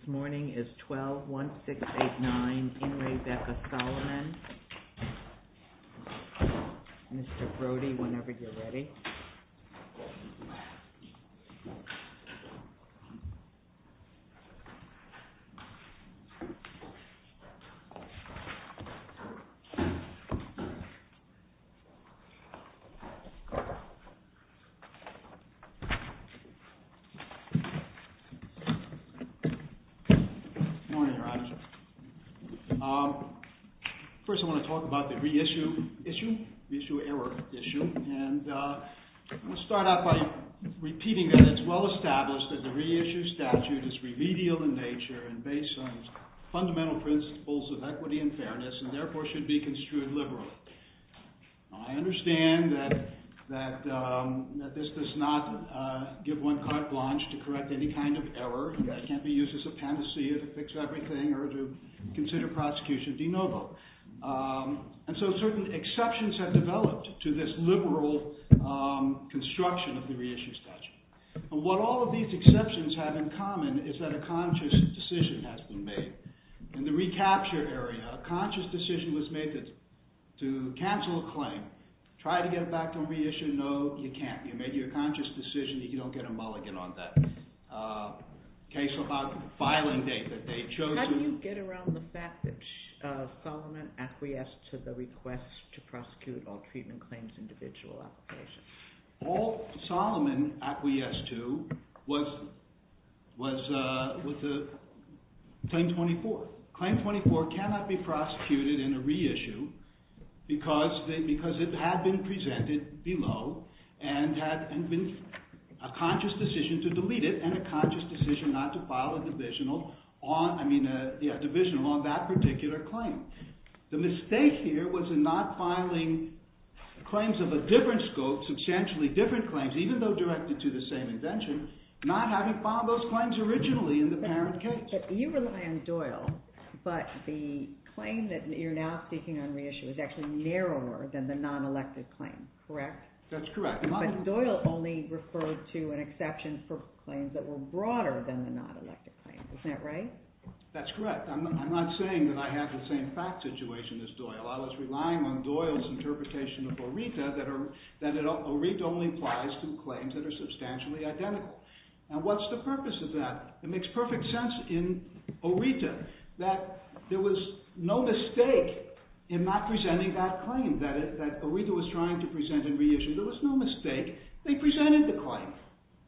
This morning is 12-1689 IN RE BEKA SOLOMON, Mr. Brody, whenever you're ready. Good morning, Your Honor. First, I want to talk about the reissue issue, reissue error issue, and I'm going to start out by repeating that it's well-established that the reissue statute is remedial in nature and based on fundamental principles of equity and fairness and therefore should be construed liberally. I understand that this does not give one carte blanche to correct any kind of error that can't be used as a panacea to fix everything or to consider prosecution de novo. And so certain exceptions have developed to this liberal construction of the reissue statute. And what all of these exceptions have in common is that a conscious decision has been made. In the recapture area, a conscious decision was made to cancel a claim, try to get it back to reissue. No, you can't. You made your conscious decision. You don't get a mulligan on that. Case about filing date that they chose to... How do you get around the fact that Solomon acquiesced to the request to prosecute all treatment claims individual application? All Solomon acquiesced to was Claim 24. Claim 24 cannot be prosecuted in a reissue because it had been presented below and had been a conscious decision to delete it and a conscious decision not to file a divisional on that particular claim. The mistake here was in not filing claims of a different scope, substantially different claims, even though directed to the same invention, not having filed those claims originally in the parent case. You rely on Doyle, but the claim that you're now seeking on reissue is actually narrower than the non-elected claim, correct? That's correct. But Doyle only referred to an exception for claims that were broader than the non-elected claims. Isn't that right? That's correct. I'm not saying that I have the same fact situation as Doyle. I was relying on Doyle's interpretation of ORETA that ORETA only applies to claims that are substantially identical. And what's the purpose of that? It makes perfect sense in ORETA that there was no mistake in not presenting that claim that ORETA was trying to present in reissue. There was no mistake. They presented the claim.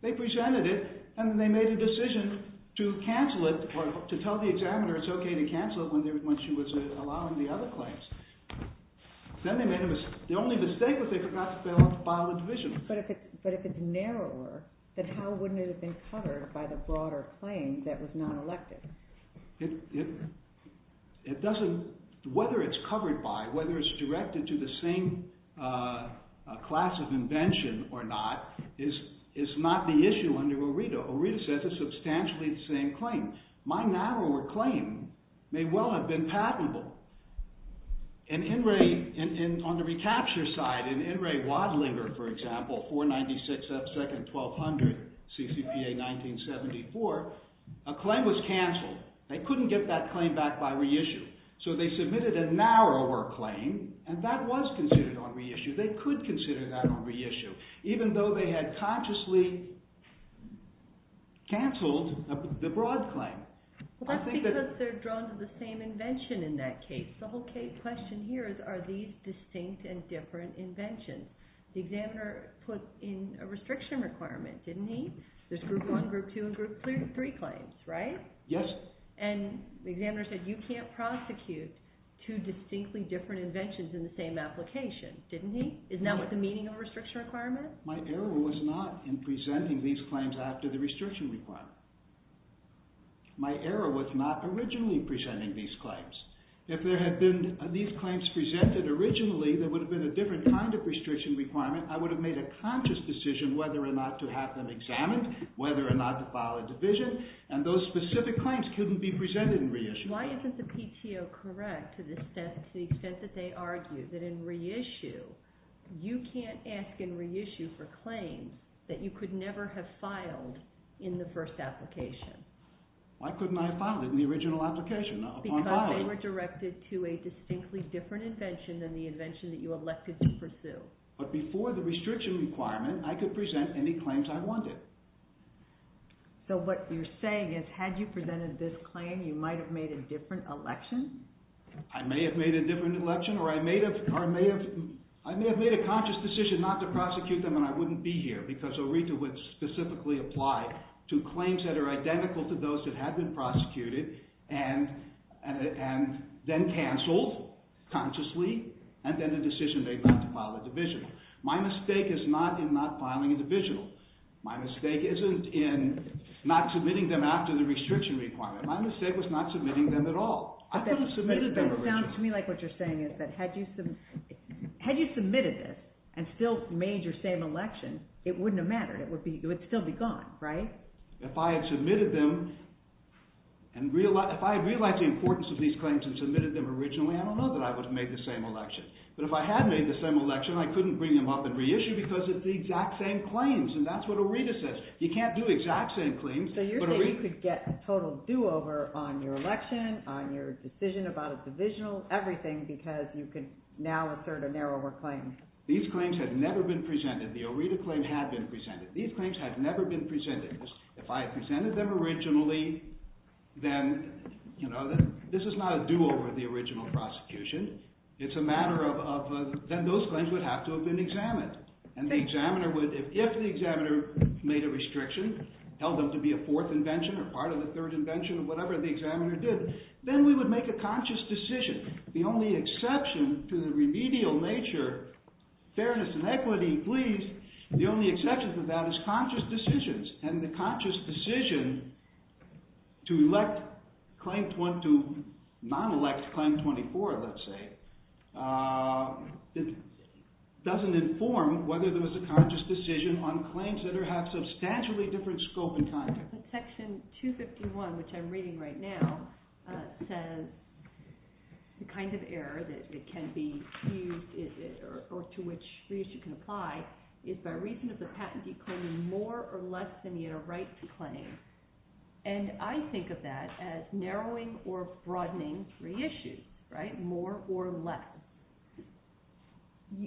They presented it, and then they made a decision to cancel it or to tell the examiner it's okay to cancel it when she was allowing the other claims. Then they made a mistake. The only mistake was they forgot to file a divisional. But if it's narrower, then how wouldn't it have been covered by the broader claim that was non-elected? Whether it's covered by, whether it's directed to the same class of invention or not is not the issue under ORETA. ORETA says it's substantially the same claim. My narrower claim may well have been patentable. On the recapture side, in In Re Wadlinger, for example, 496 F. 2nd, 1200, CCPA 1974, a claim was canceled. They couldn't get that claim back by reissue. So they submitted a narrower claim, and that was considered on reissue. They could consider that on reissue, even though they had consciously canceled the broad claim. Well, that's because they're drawn to the same invention in that case. The whole question here is, are these distinct and different inventions? The examiner put in a restriction requirement, didn't he? There's Group 1, Group 2, and Group 3 claims, right? Yes. And the examiner said, you can't prosecute two distinctly different inventions in the same application, didn't he? Isn't that what the meaning of a restriction requirement? My error was not in presenting these claims after the restriction requirement. My error was not originally presenting these claims. If there had been these claims presented originally, there would have been a different kind of restriction requirement. I would have made a conscious decision whether or not to have them examined, whether or not to file a division, and those specific claims couldn't be presented in reissue. Why isn't the PTO correct to the extent that they argue that in reissue, you can't ask in reissue for claims that you could never have filed in the first application? Why couldn't I have filed it in the original application upon filing? Because they were directed to a distinctly different invention than the invention that you elected to pursue. But before the restriction requirement, I could present any claims I wanted. So what you're saying is, had you presented this claim, you might have made a different election? I may have made a different election or I may have made a conscious decision not to prosecute them and I wouldn't be here because ORETA would specifically apply to claims that are identical to those that had been prosecuted and then canceled consciously, and then a decision made not to file a division. My mistake is not in not filing a division. My mistake isn't in not submitting them after the restriction requirement. My mistake was not submitting them at all. It sounds to me like what you're saying is that had you submitted this and still made your same election, it wouldn't have mattered. It would still be gone, right? If I had submitted them and realized the importance of these claims and submitted them originally, I don't know that I would have made the same election. But if I had made the same election, I couldn't bring them up and reissue because it's the exact same claims. And that's what ORETA says. You can't do exact same claims. So you're saying you could get a total do-over on your election, on your decision about a divisional, everything, because you can now assert a narrower claim. These claims had never been presented. The ORETA claim had been presented. These claims had never been presented. If I had presented them originally, then this is not a do-over of the original prosecution. It's a matter of then those claims would have to have been examined. And the examiner would, if the examiner made a restriction, held them to be a fourth invention or part of the third invention or whatever the examiner did, then we would make a conscious decision. The only exception to the remedial nature, fairness and equity, please, the only exception to that is conscious decisions. And the conscious decision to elect, to non-elect Claim 24, let's say, doesn't inform whether there was a conscious decision on claims that have substantially different scope and context. Section 251, which I'm reading right now, says the kind of error that can be used or to which the issue can apply is by reason of the patentee claiming more or less than he had a right to claim. And I think of that as narrowing or broadening three issues, right, more or less.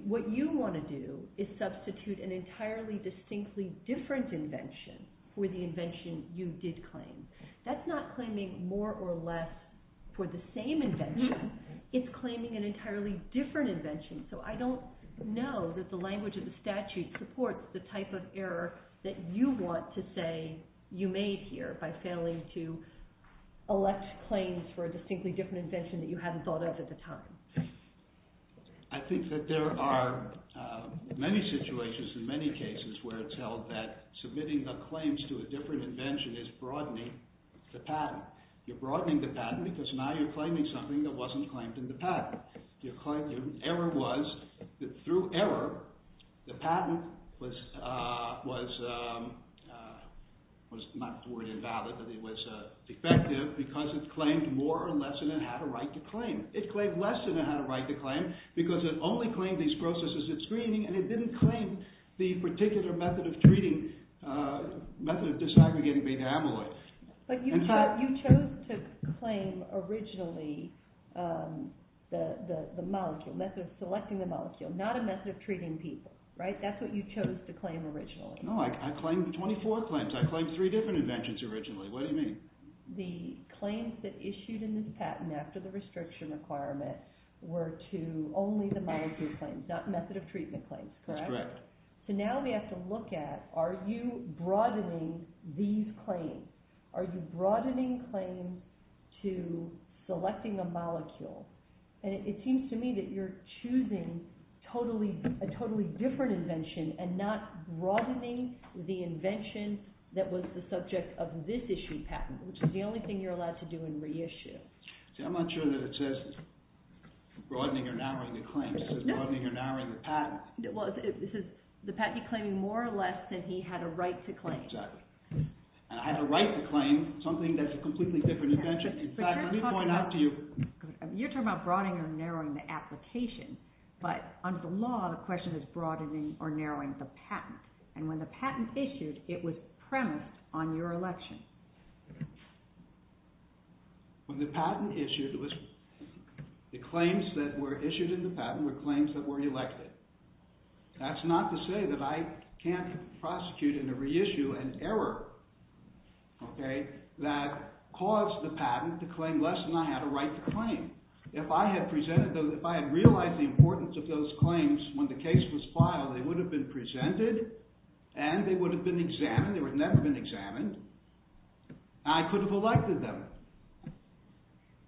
What you want to do is substitute an entirely distinctly different invention for the invention you did claim. That's not claiming more or less for the same invention. It's claiming an entirely different invention. So I don't know that the language of the statute supports the type of error that you want to say you made here by failing to elect claims for a distinctly different invention that you hadn't thought of at the time. I think that there are many situations and many cases where it's held that submitting the claims to a different invention is broadening the patent. You're broadening the patent because now you're claiming something that wasn't claimed in the patent. The error was that through error the patent was not fully invalid. It was defective because it claimed more or less than it had a right to claim. It claimed less than it had a right to claim because it only claimed these processes at screening and it didn't claim the particular method of treating, method of disaggregating beta amyloid. But you chose to claim originally the molecule, method of selecting the molecule, not a method of treating people, right? That's what you chose to claim originally. No, I claimed 24 claims. I claimed three different inventions originally. What do you mean? The claims that issued in this patent after the restriction requirement were to only the molecule claims, not method of treatment claims, correct? That's correct. So now we have to look at are you broadening these claims? Are you broadening claims to selecting a molecule? And it seems to me that you're choosing a totally different invention and not broadening the invention that was the subject of this issued patent, which is the only thing you're allowed to do in reissue. See, I'm not sure that it says broadening or narrowing the claims. It says broadening or narrowing the patent. Well, it says the patent you're claiming more or less than he had a right to claim. Exactly. And I had a right to claim something that's a completely different invention. In fact, let me point out to you. You're talking about broadening or narrowing the application, but under the law, the question is broadening or narrowing the patent. And when the patent issued, it was premised on your election. When the patent issued, it was the claims that were issued in the patent were claims that were elected. That's not to say that I can't prosecute in a reissue an error, okay, that caused the patent to claim less than I had a right to claim. If I had presented those, if I had realized the importance of those claims when the case was filed, they would have been presented and they would have been examined. They would have never been examined. I could have elected them.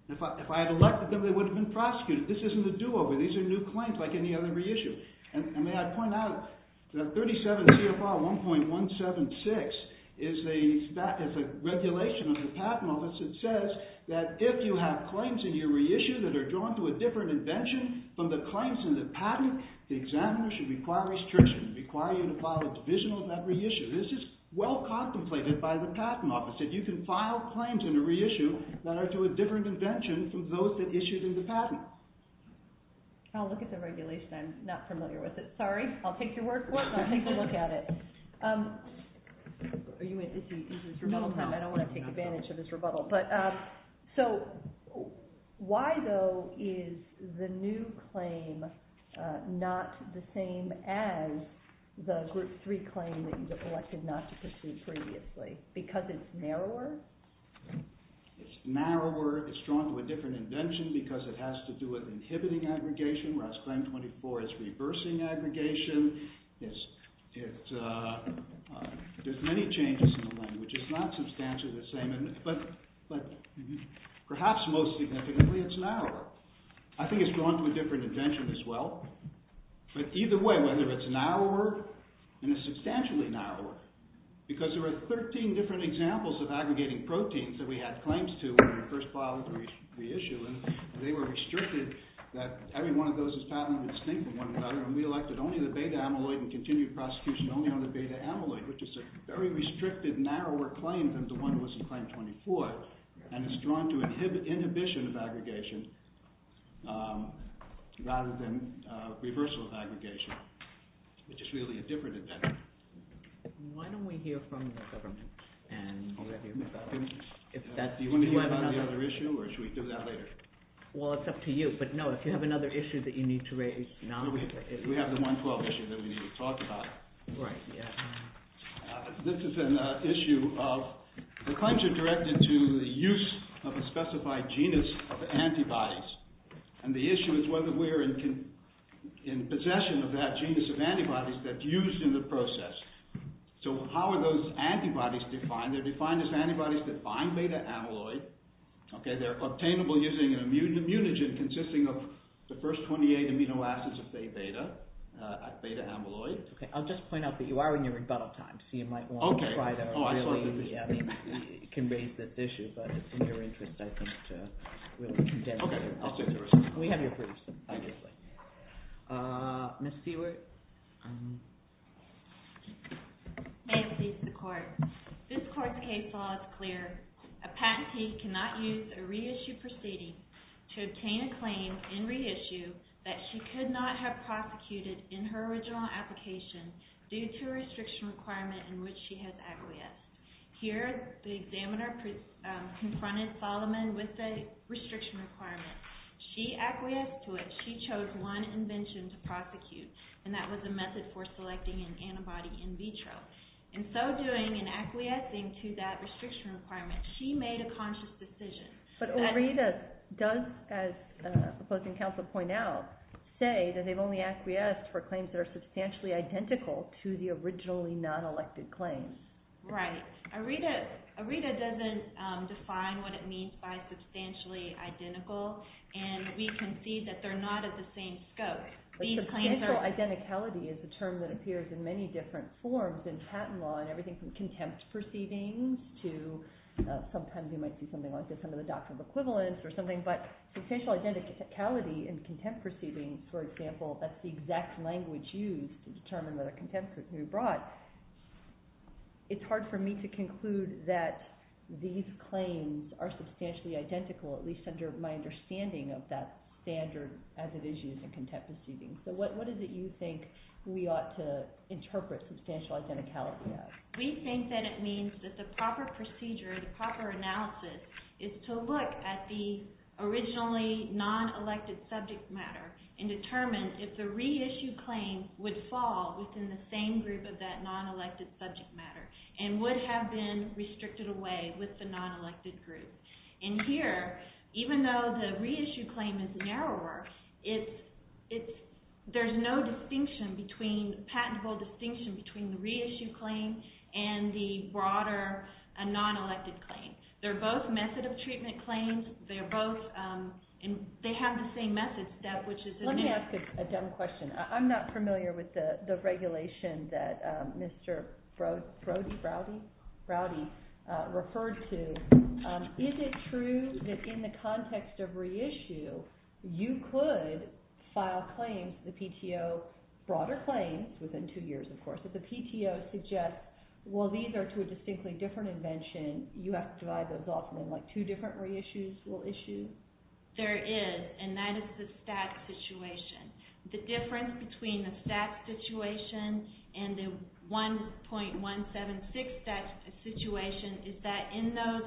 If I had elected them, they would have been prosecuted. This isn't a do-over. These are new claims like any other reissue. And may I point out that 37 CFR 1.176 is a regulation of the patent office that says that if you have claims in your reissue that are drawn to a different invention from the claims in the patent, the examiner should require restriction, require you to file a divisional in that reissue. This is well contemplated by the patent office. If you can file claims in a reissue that are to a different invention from those that issued in the patent. I'll look at the regulation. I'm not familiar with it. Sorry, I'll take your word for it and I'll take a look at it. It's rebuttal time. I don't want to take advantage of this rebuttal. So, why though is the new claim not the same as the Group 3 claim that you've elected not to pursue previously? Because it's narrower? It's narrower. It's drawn to a different invention because it has to do with inhibiting aggregation. Whereas Claim 24 is reversing aggregation. There's many changes in the language. It's not substantially the same. But perhaps most significantly, it's narrower. I think it's drawn to a different invention as well. But either way, whether it's narrower and it's substantially narrower. Because there were 13 different examples of aggregating proteins that we had claims to when we first filed the reissue. And they were restricted that every one of those is patently distinct from one another. And we elected only the beta amyloid and continued prosecution only on the beta amyloid. Which is a very restricted, narrower claim than the one that was in Claim 24. And it's drawn to inhibition of aggregation rather than reversal of aggregation. Which is really a different invention. Why don't we hear from the government? Do you want to hear about any other issue or should we do that later? Well, it's up to you. But no, if you have another issue that you need to raise now. We have the 112 issue that we need to talk about. Right, yeah. This is an issue of... The claims are directed to the use of a specified genus of antibodies. And the issue is whether we're in possession of that genus of antibodies that's used in the process. So how are those antibodies defined? They're defined as antibodies that bind beta amyloid. They're obtainable using an immunogen consisting of the first 28 amino acids of beta amyloid. I'll just point out that you are in your rebuttal time. So you might want to try to really... I mean, you can raise this issue, but it's in your interest, I think, to really condense it. We have your briefs, obviously. Ms. Seward? May it please the Court. This Court's case law is clear. A patentee cannot use a reissue proceeding to obtain a claim in reissue that she could not have prosecuted in her original application due to a restriction requirement in which she has acquiesced. Here, the examiner confronted Solomon with a restriction requirement. She acquiesced to it. She chose one invention to prosecute, and that was a method for selecting an antibody in vitro. In so doing, in acquiescing to that restriction requirement, she made a conscious decision. But OREDA does, as the opposing counsel pointed out, say that they've only acquiesced for claims that are substantially identical to the originally non-elected claims. Right. OREDA doesn't define what it means by substantially identical, and we can see that they're not at the same scope. Substantial identicality is a term that appears in many different forms in patent law in everything from contempt proceedings to... but substantial identicality in contempt proceedings, for example, that's the exact language used to determine that a contempt could be brought, it's hard for me to conclude that these claims are substantially identical, at least under my understanding of that standard as it is used in contempt proceedings. So what is it you think we ought to interpret substantial identicality as? We think that it means that the proper procedure, the proper analysis, is to look at the originally non-elected subject matter and determine if the reissued claim would fall within the same group of that non-elected subject matter and would have been restricted away with the non-elected group. And here, even though the reissued claim is narrower, there's no distinction between... patentable distinction between the reissued claim and the broader non-elected claim. They're both method of treatment claims, they have the same method step, which is... Let me ask a dumb question. I'm not familiar with the regulation that Mr. Brody referred to. Is it true that in the context of reissue, you could file claims, the PTO, broader claims, within two years, of course, if the PTO suggests, well, these are two distinctly different inventions, you have to divide those off and then two different reissues will issue? There is, and that is the stat situation. The difference between the stat situation and the 1.176 stat situation is that in those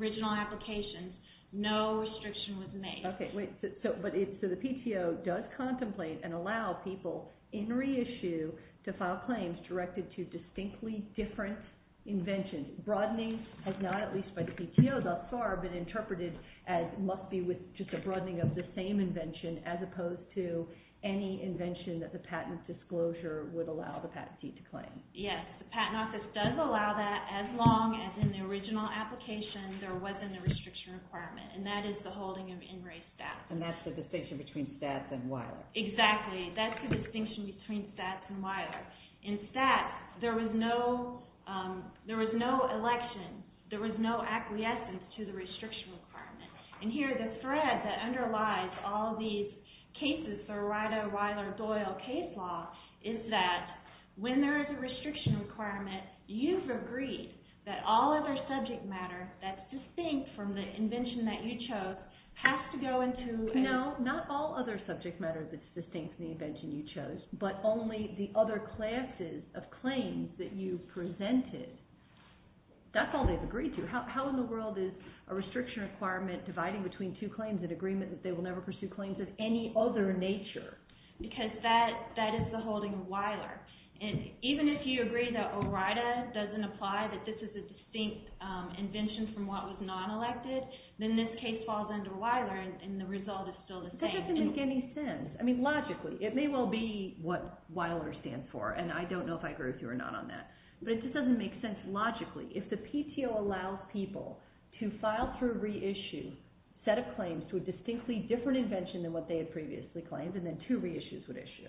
original applications, no restriction was made. Okay, wait. So the PTO does contemplate and allow people in reissue to file claims directed to distinctly different inventions, which broadening has not, at least by the PTO thus far, been interpreted as must be with just a broadening of the same invention as opposed to any invention that the patent disclosure would allow the patent seat to claim. Yes, the Patent Office does allow that as long as in the original application there wasn't a restriction requirement, and that is the holding of in-rate stats. And that's the distinction between stats and wireless. Exactly. That's the distinction between stats and wireless. In stats, there was no election. There was no acquiescence to the restriction requirement. And here the thread that underlies all these cases, the Rider-Weiler-Doyle case law, is that when there is a restriction requirement, you've agreed that all other subject matter that's distinct from the invention that you chose has to go into... No, not all other subject matter that's distinct from the invention you chose, but only the other classes of claims that you presented. That's all they've agreed to. How in the world is a restriction requirement dividing between two claims in agreement that they will never pursue claims of any other nature? Because that is the holding of Weiler. And even if you agree that ORIDA doesn't apply, that this is a distinct invention from what was non-elected, then this case falls under Weiler and the result is still the same. Because it doesn't make any sense. I mean, logically, it may well be what Weiler stands for, and I don't know if I agree with you or not on that. But it just doesn't make sense logically. If the PTO allows people to file through reissue a set of claims to a distinctly different invention than what they had previously claimed, and then two reissues would issue,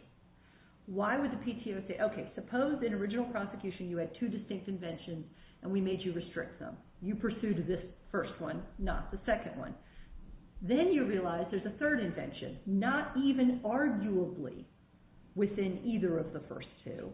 why would the PTO say, okay, suppose in original prosecution you had two distinct inventions and we made you restrict them. You pursued this first one, not the second one. Then you realize there's a third invention, not even arguably within either of the first two.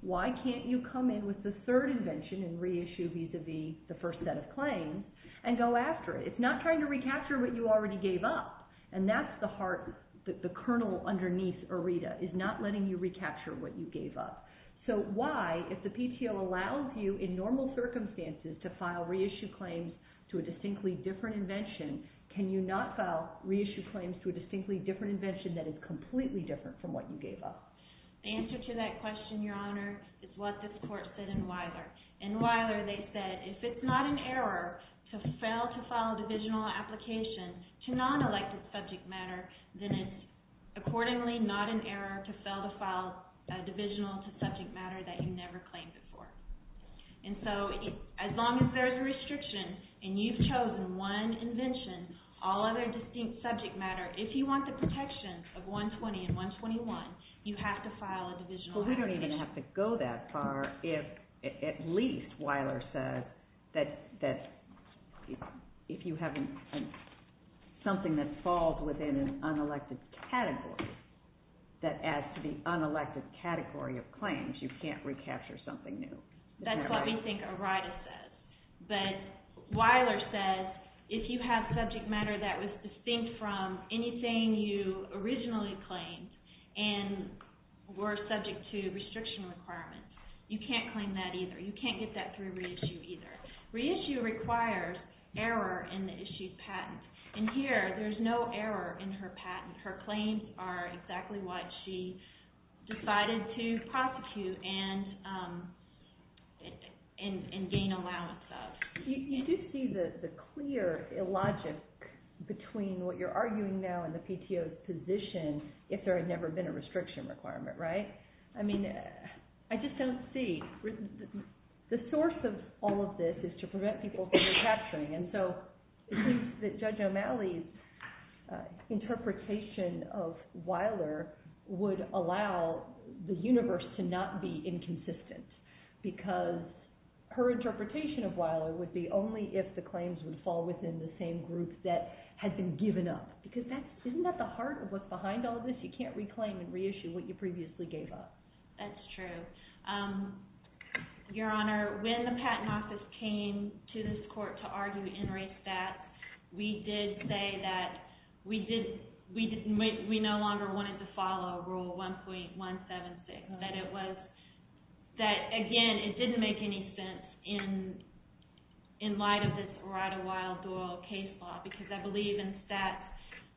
Why can't you come in with the third invention and reissue vis-à-vis the first set of claims and go after it? It's not trying to recapture what you already gave up. And that's the heart, the kernel underneath ORIDA, is not letting you recapture what you gave up. So why, if the PTO allows you in normal circumstances to file reissue claims to a distinctly different invention, can you not file reissue claims to a distinctly different invention that is completely different from what you gave up? The answer to that question, Your Honor, is what this court said in Weiler. In Weiler they said if it's not an error to fail to file a divisional application to non-elected subject matter, then it's accordingly not an error to fail to file a divisional to subject matter that you never claimed before. And so as long as there's a restriction and you've chosen one invention, all other distinct subject matter, if you want the protections of 120 and 121, you have to file a divisional application. But we don't even have to go that far if at least Weiler says that if you have something that falls within an unelected category that adds to the unelected category of claims, you can't recapture something new. That's what we think ORIDA says. But Weiler says if you have subject matter that was distinct from anything you originally claimed and were subject to restriction requirements, you can't claim that either. You can't get that through reissue either. Reissue requires error in the issued patent. And here there's no error in her patent. Her claims are exactly what she decided to prosecute and gain allowance of. You do see the clear illogic between what you're arguing now and the PTO's position if there had never been a restriction requirement, right? I mean, I just don't see. The source of all of this is to prevent people from recapturing. And so I think that Judge O'Malley's interpretation of Weiler would allow the universe to not be inconsistent because her interpretation of Weiler would be only if the claims would fall within the same group that had been given up. Because isn't that the heart of what's behind all of this? You can't reclaim and reissue what you previously gave up. That's true. Your Honor, when the Patent Office came to this court to argue in re-stat, we did say that we no longer wanted to follow Rule 1.176. That it was, that again, it didn't make any sense in light of this Rida-Weill-Doyle case law. Because I believe in stat,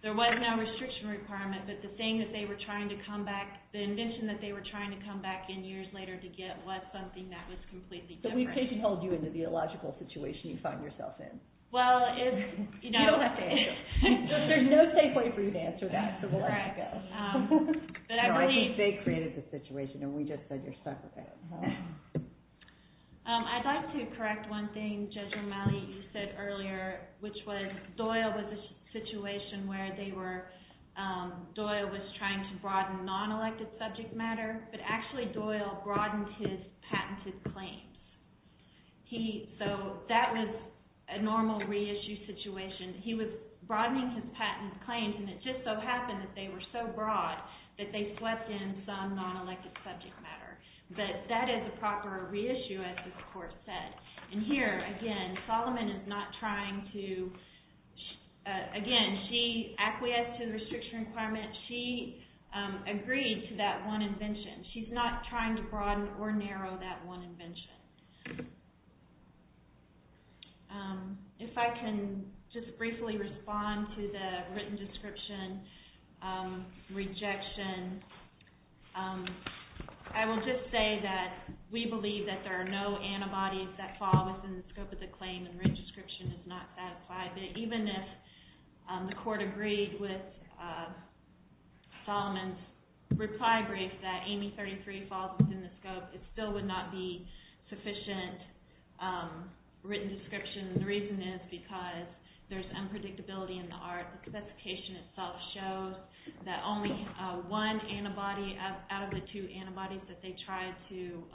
there was no restriction requirement, but the thing that they were trying to come back, the invention that they were trying to come back in years later to get was something that was completely different. So we've taken hold of you in the theological situation you find yourself in. Well, it's, you know... You don't have to answer. There's no safe way for you to answer that, so we'll let you go. But I believe... No, I think they created the situation and we just said you're stuck with it. I'd like to correct one thing Judge O'Malley said earlier, which was Doyle was a situation where they were, Doyle was trying to broaden non-elected subject matter, but actually Doyle broadened his patented claims. He, so that was a normal re-issue situation. He was broadening his patent claims and it just so happened that they were so broad that they swept in some non-elected subject matter. But that is a proper re-issue as the court said. And here, again, Solomon is not trying to, again, she acquiesced to the restriction requirement. She agreed to that one invention. She's not trying to broaden or narrow that one invention. If I can just briefly respond to the written description, rejection. I will just say that we believe that there are no antibodies that fall within the scope of the claim and the written description is not satisfied. Even if the court agreed with Solomon's reply brief that Amy 33 falls within the scope, it still would not be sufficient written description. The reason is because there's unpredictability in the art. The specification itself shows that only one antibody out of the two antibodies that they tried to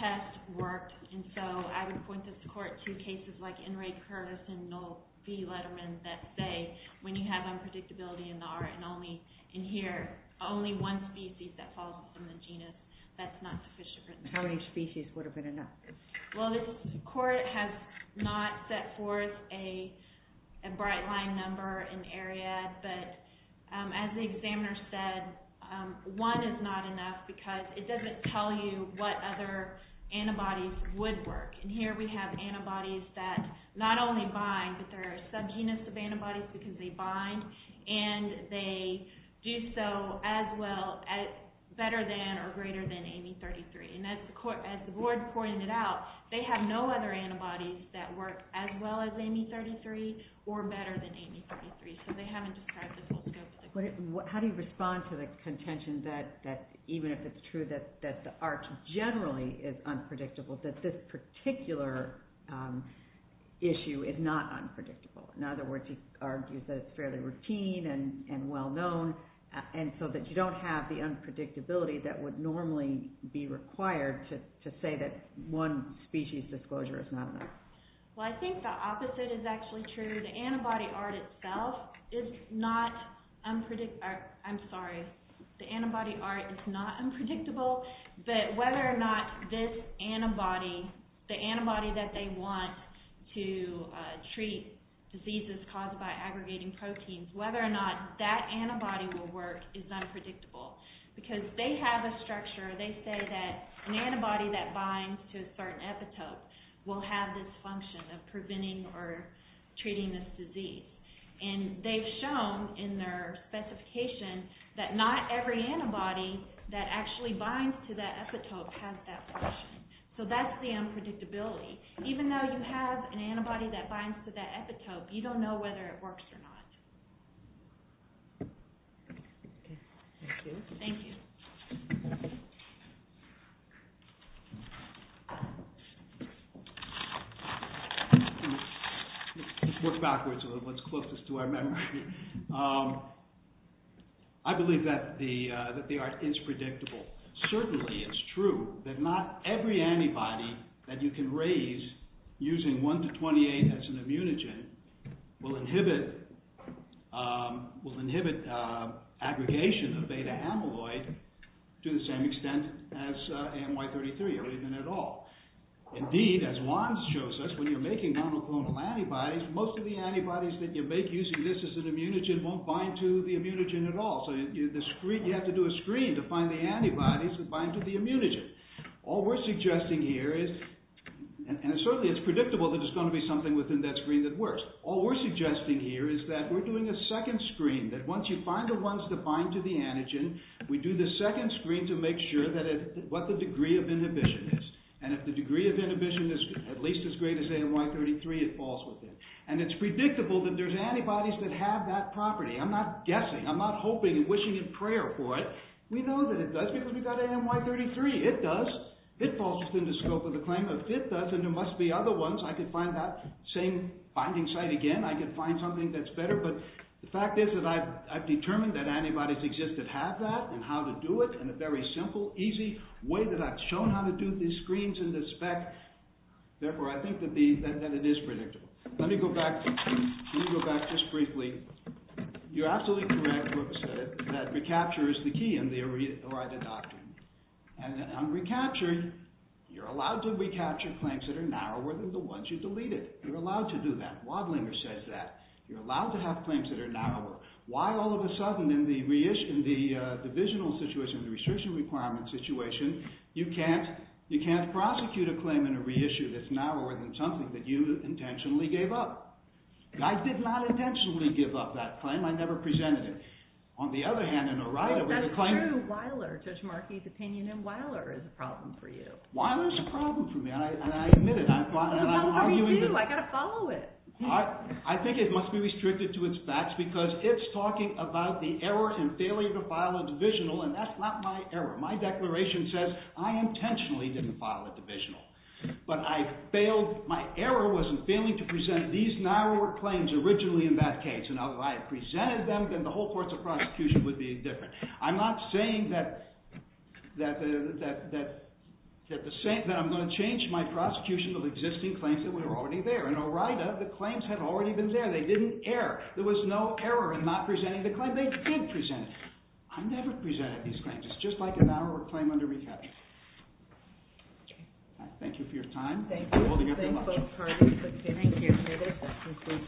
test worked. And so I would point this court to cases like N. Ray Curtis and Noel V. Letterman that say when you have unpredictability in the art and only in here, only one species that falls within the genus, that's not sufficient written description. How many species would have been enough? Well, this court has not set forth a bright line number in Ariad, but as the examiner said, one is not enough because it doesn't tell you what other antibodies would work. And here we have antibodies that not only bind, but they're a subgenus of antibodies because they bind and they do so as well, better than or greater than Amy 33. And as the board pointed out, they have no other antibodies that work as well as Amy 33 or better than Amy 33, so they haven't described the full scope of the claim. How do you respond to the contention that even if it's true that the art generally is unpredictable, that this particular issue is not unpredictable? In other words, he argues that it's fairly routine and well-known and so that you don't have the unpredictability that would normally be required to say that one species disclosure is not enough. Well, I think the opposite is actually true. The antibody art itself is not unpredictable. I'm sorry. The antibody art is not unpredictable, but whether or not this antibody, the antibody that they want to treat diseases caused by aggregating proteins, whether or not that antibody will work is unpredictable because they have a structure. They say that an antibody that binds to a certain epitope will have this function of preventing or treating this disease. And they've shown in their specification that not every antibody that actually binds to that epitope has that function. So that's the unpredictability. Even though you have an antibody that binds to that epitope, you don't know whether it works or not. Thank you. Thank you. Let's work backwards to what's closest to our memory. I believe that the art is predictable. Certainly it's true that not every antibody that you can raise using 1 to 28 as an immunogen will inhibit aggregation of beta-amyloid to the same extent as AMY-33 or even at all. Indeed, as Juan shows us, when you're making monoclonal antibodies, most of the antibodies that you make using this as an immunogen won't bind to the immunogen at all. So you have to do a screen to find the antibodies that bind to the immunogen. All we're suggesting here is, and certainly it's predictable that there's going to be something within that screen that works, all we're suggesting here is that we're doing a second screen that once you find the ones that bind to the antigen, we do the second screen to make sure what the degree of inhibition is. And if the degree of inhibition is at least as great as AMY-33, it falls within. And it's predictable that there's antibodies that have that property. I'm not guessing, I'm not hoping and wishing in prayer for it. We know that it does because we've got AMY-33. It does. It falls within the scope of the claim of it does, and there must be other ones. I could find that same binding site again. I could find something that's better. But the fact is that I've determined that antibodies exist that have that and how to do it in a very simple, easy way that I've shown how to do the screens and the spec, therefore I think that it is predictable. Let me go back just briefly. You're absolutely correct, Brooks, that recapture is the key in the ERIDA doctrine. And recapture, you're allowed to recapture claims that are narrower than the ones you deleted. You're allowed to do that. Wadlinger says that. You're allowed to have claims that are narrower. Why all of a sudden in the divisional situation, the restriction requirement situation, you can't prosecute a claim in a reissue that's narrower than something that you intentionally gave up. I did not intentionally give up that claim. I never presented it. On the other hand, in ERIDA, where the claim… That's true. Wyler, Judge Markey's opinion in Wyler is a problem for you. Wyler is a problem for me, and I admit it. How come you do? I've got to follow it. I think it must be restricted to its facts because it's talking about the error and failure to file a divisional and that's not my error. My declaration says I intentionally didn't file a divisional, but my error was in failing to present these narrower claims originally in that case. Now, if I had presented them, then the whole course of prosecution would be different. I'm not saying that I'm going to change my prosecution of existing claims that were already there. In ERIDA, the claims had already been there. They didn't err. There was no error in not presenting the claim. They did present it. I never presented these claims. It's just like an error or claim under rehab. Thank you for your time. Thank you. Thank both parties for being here today.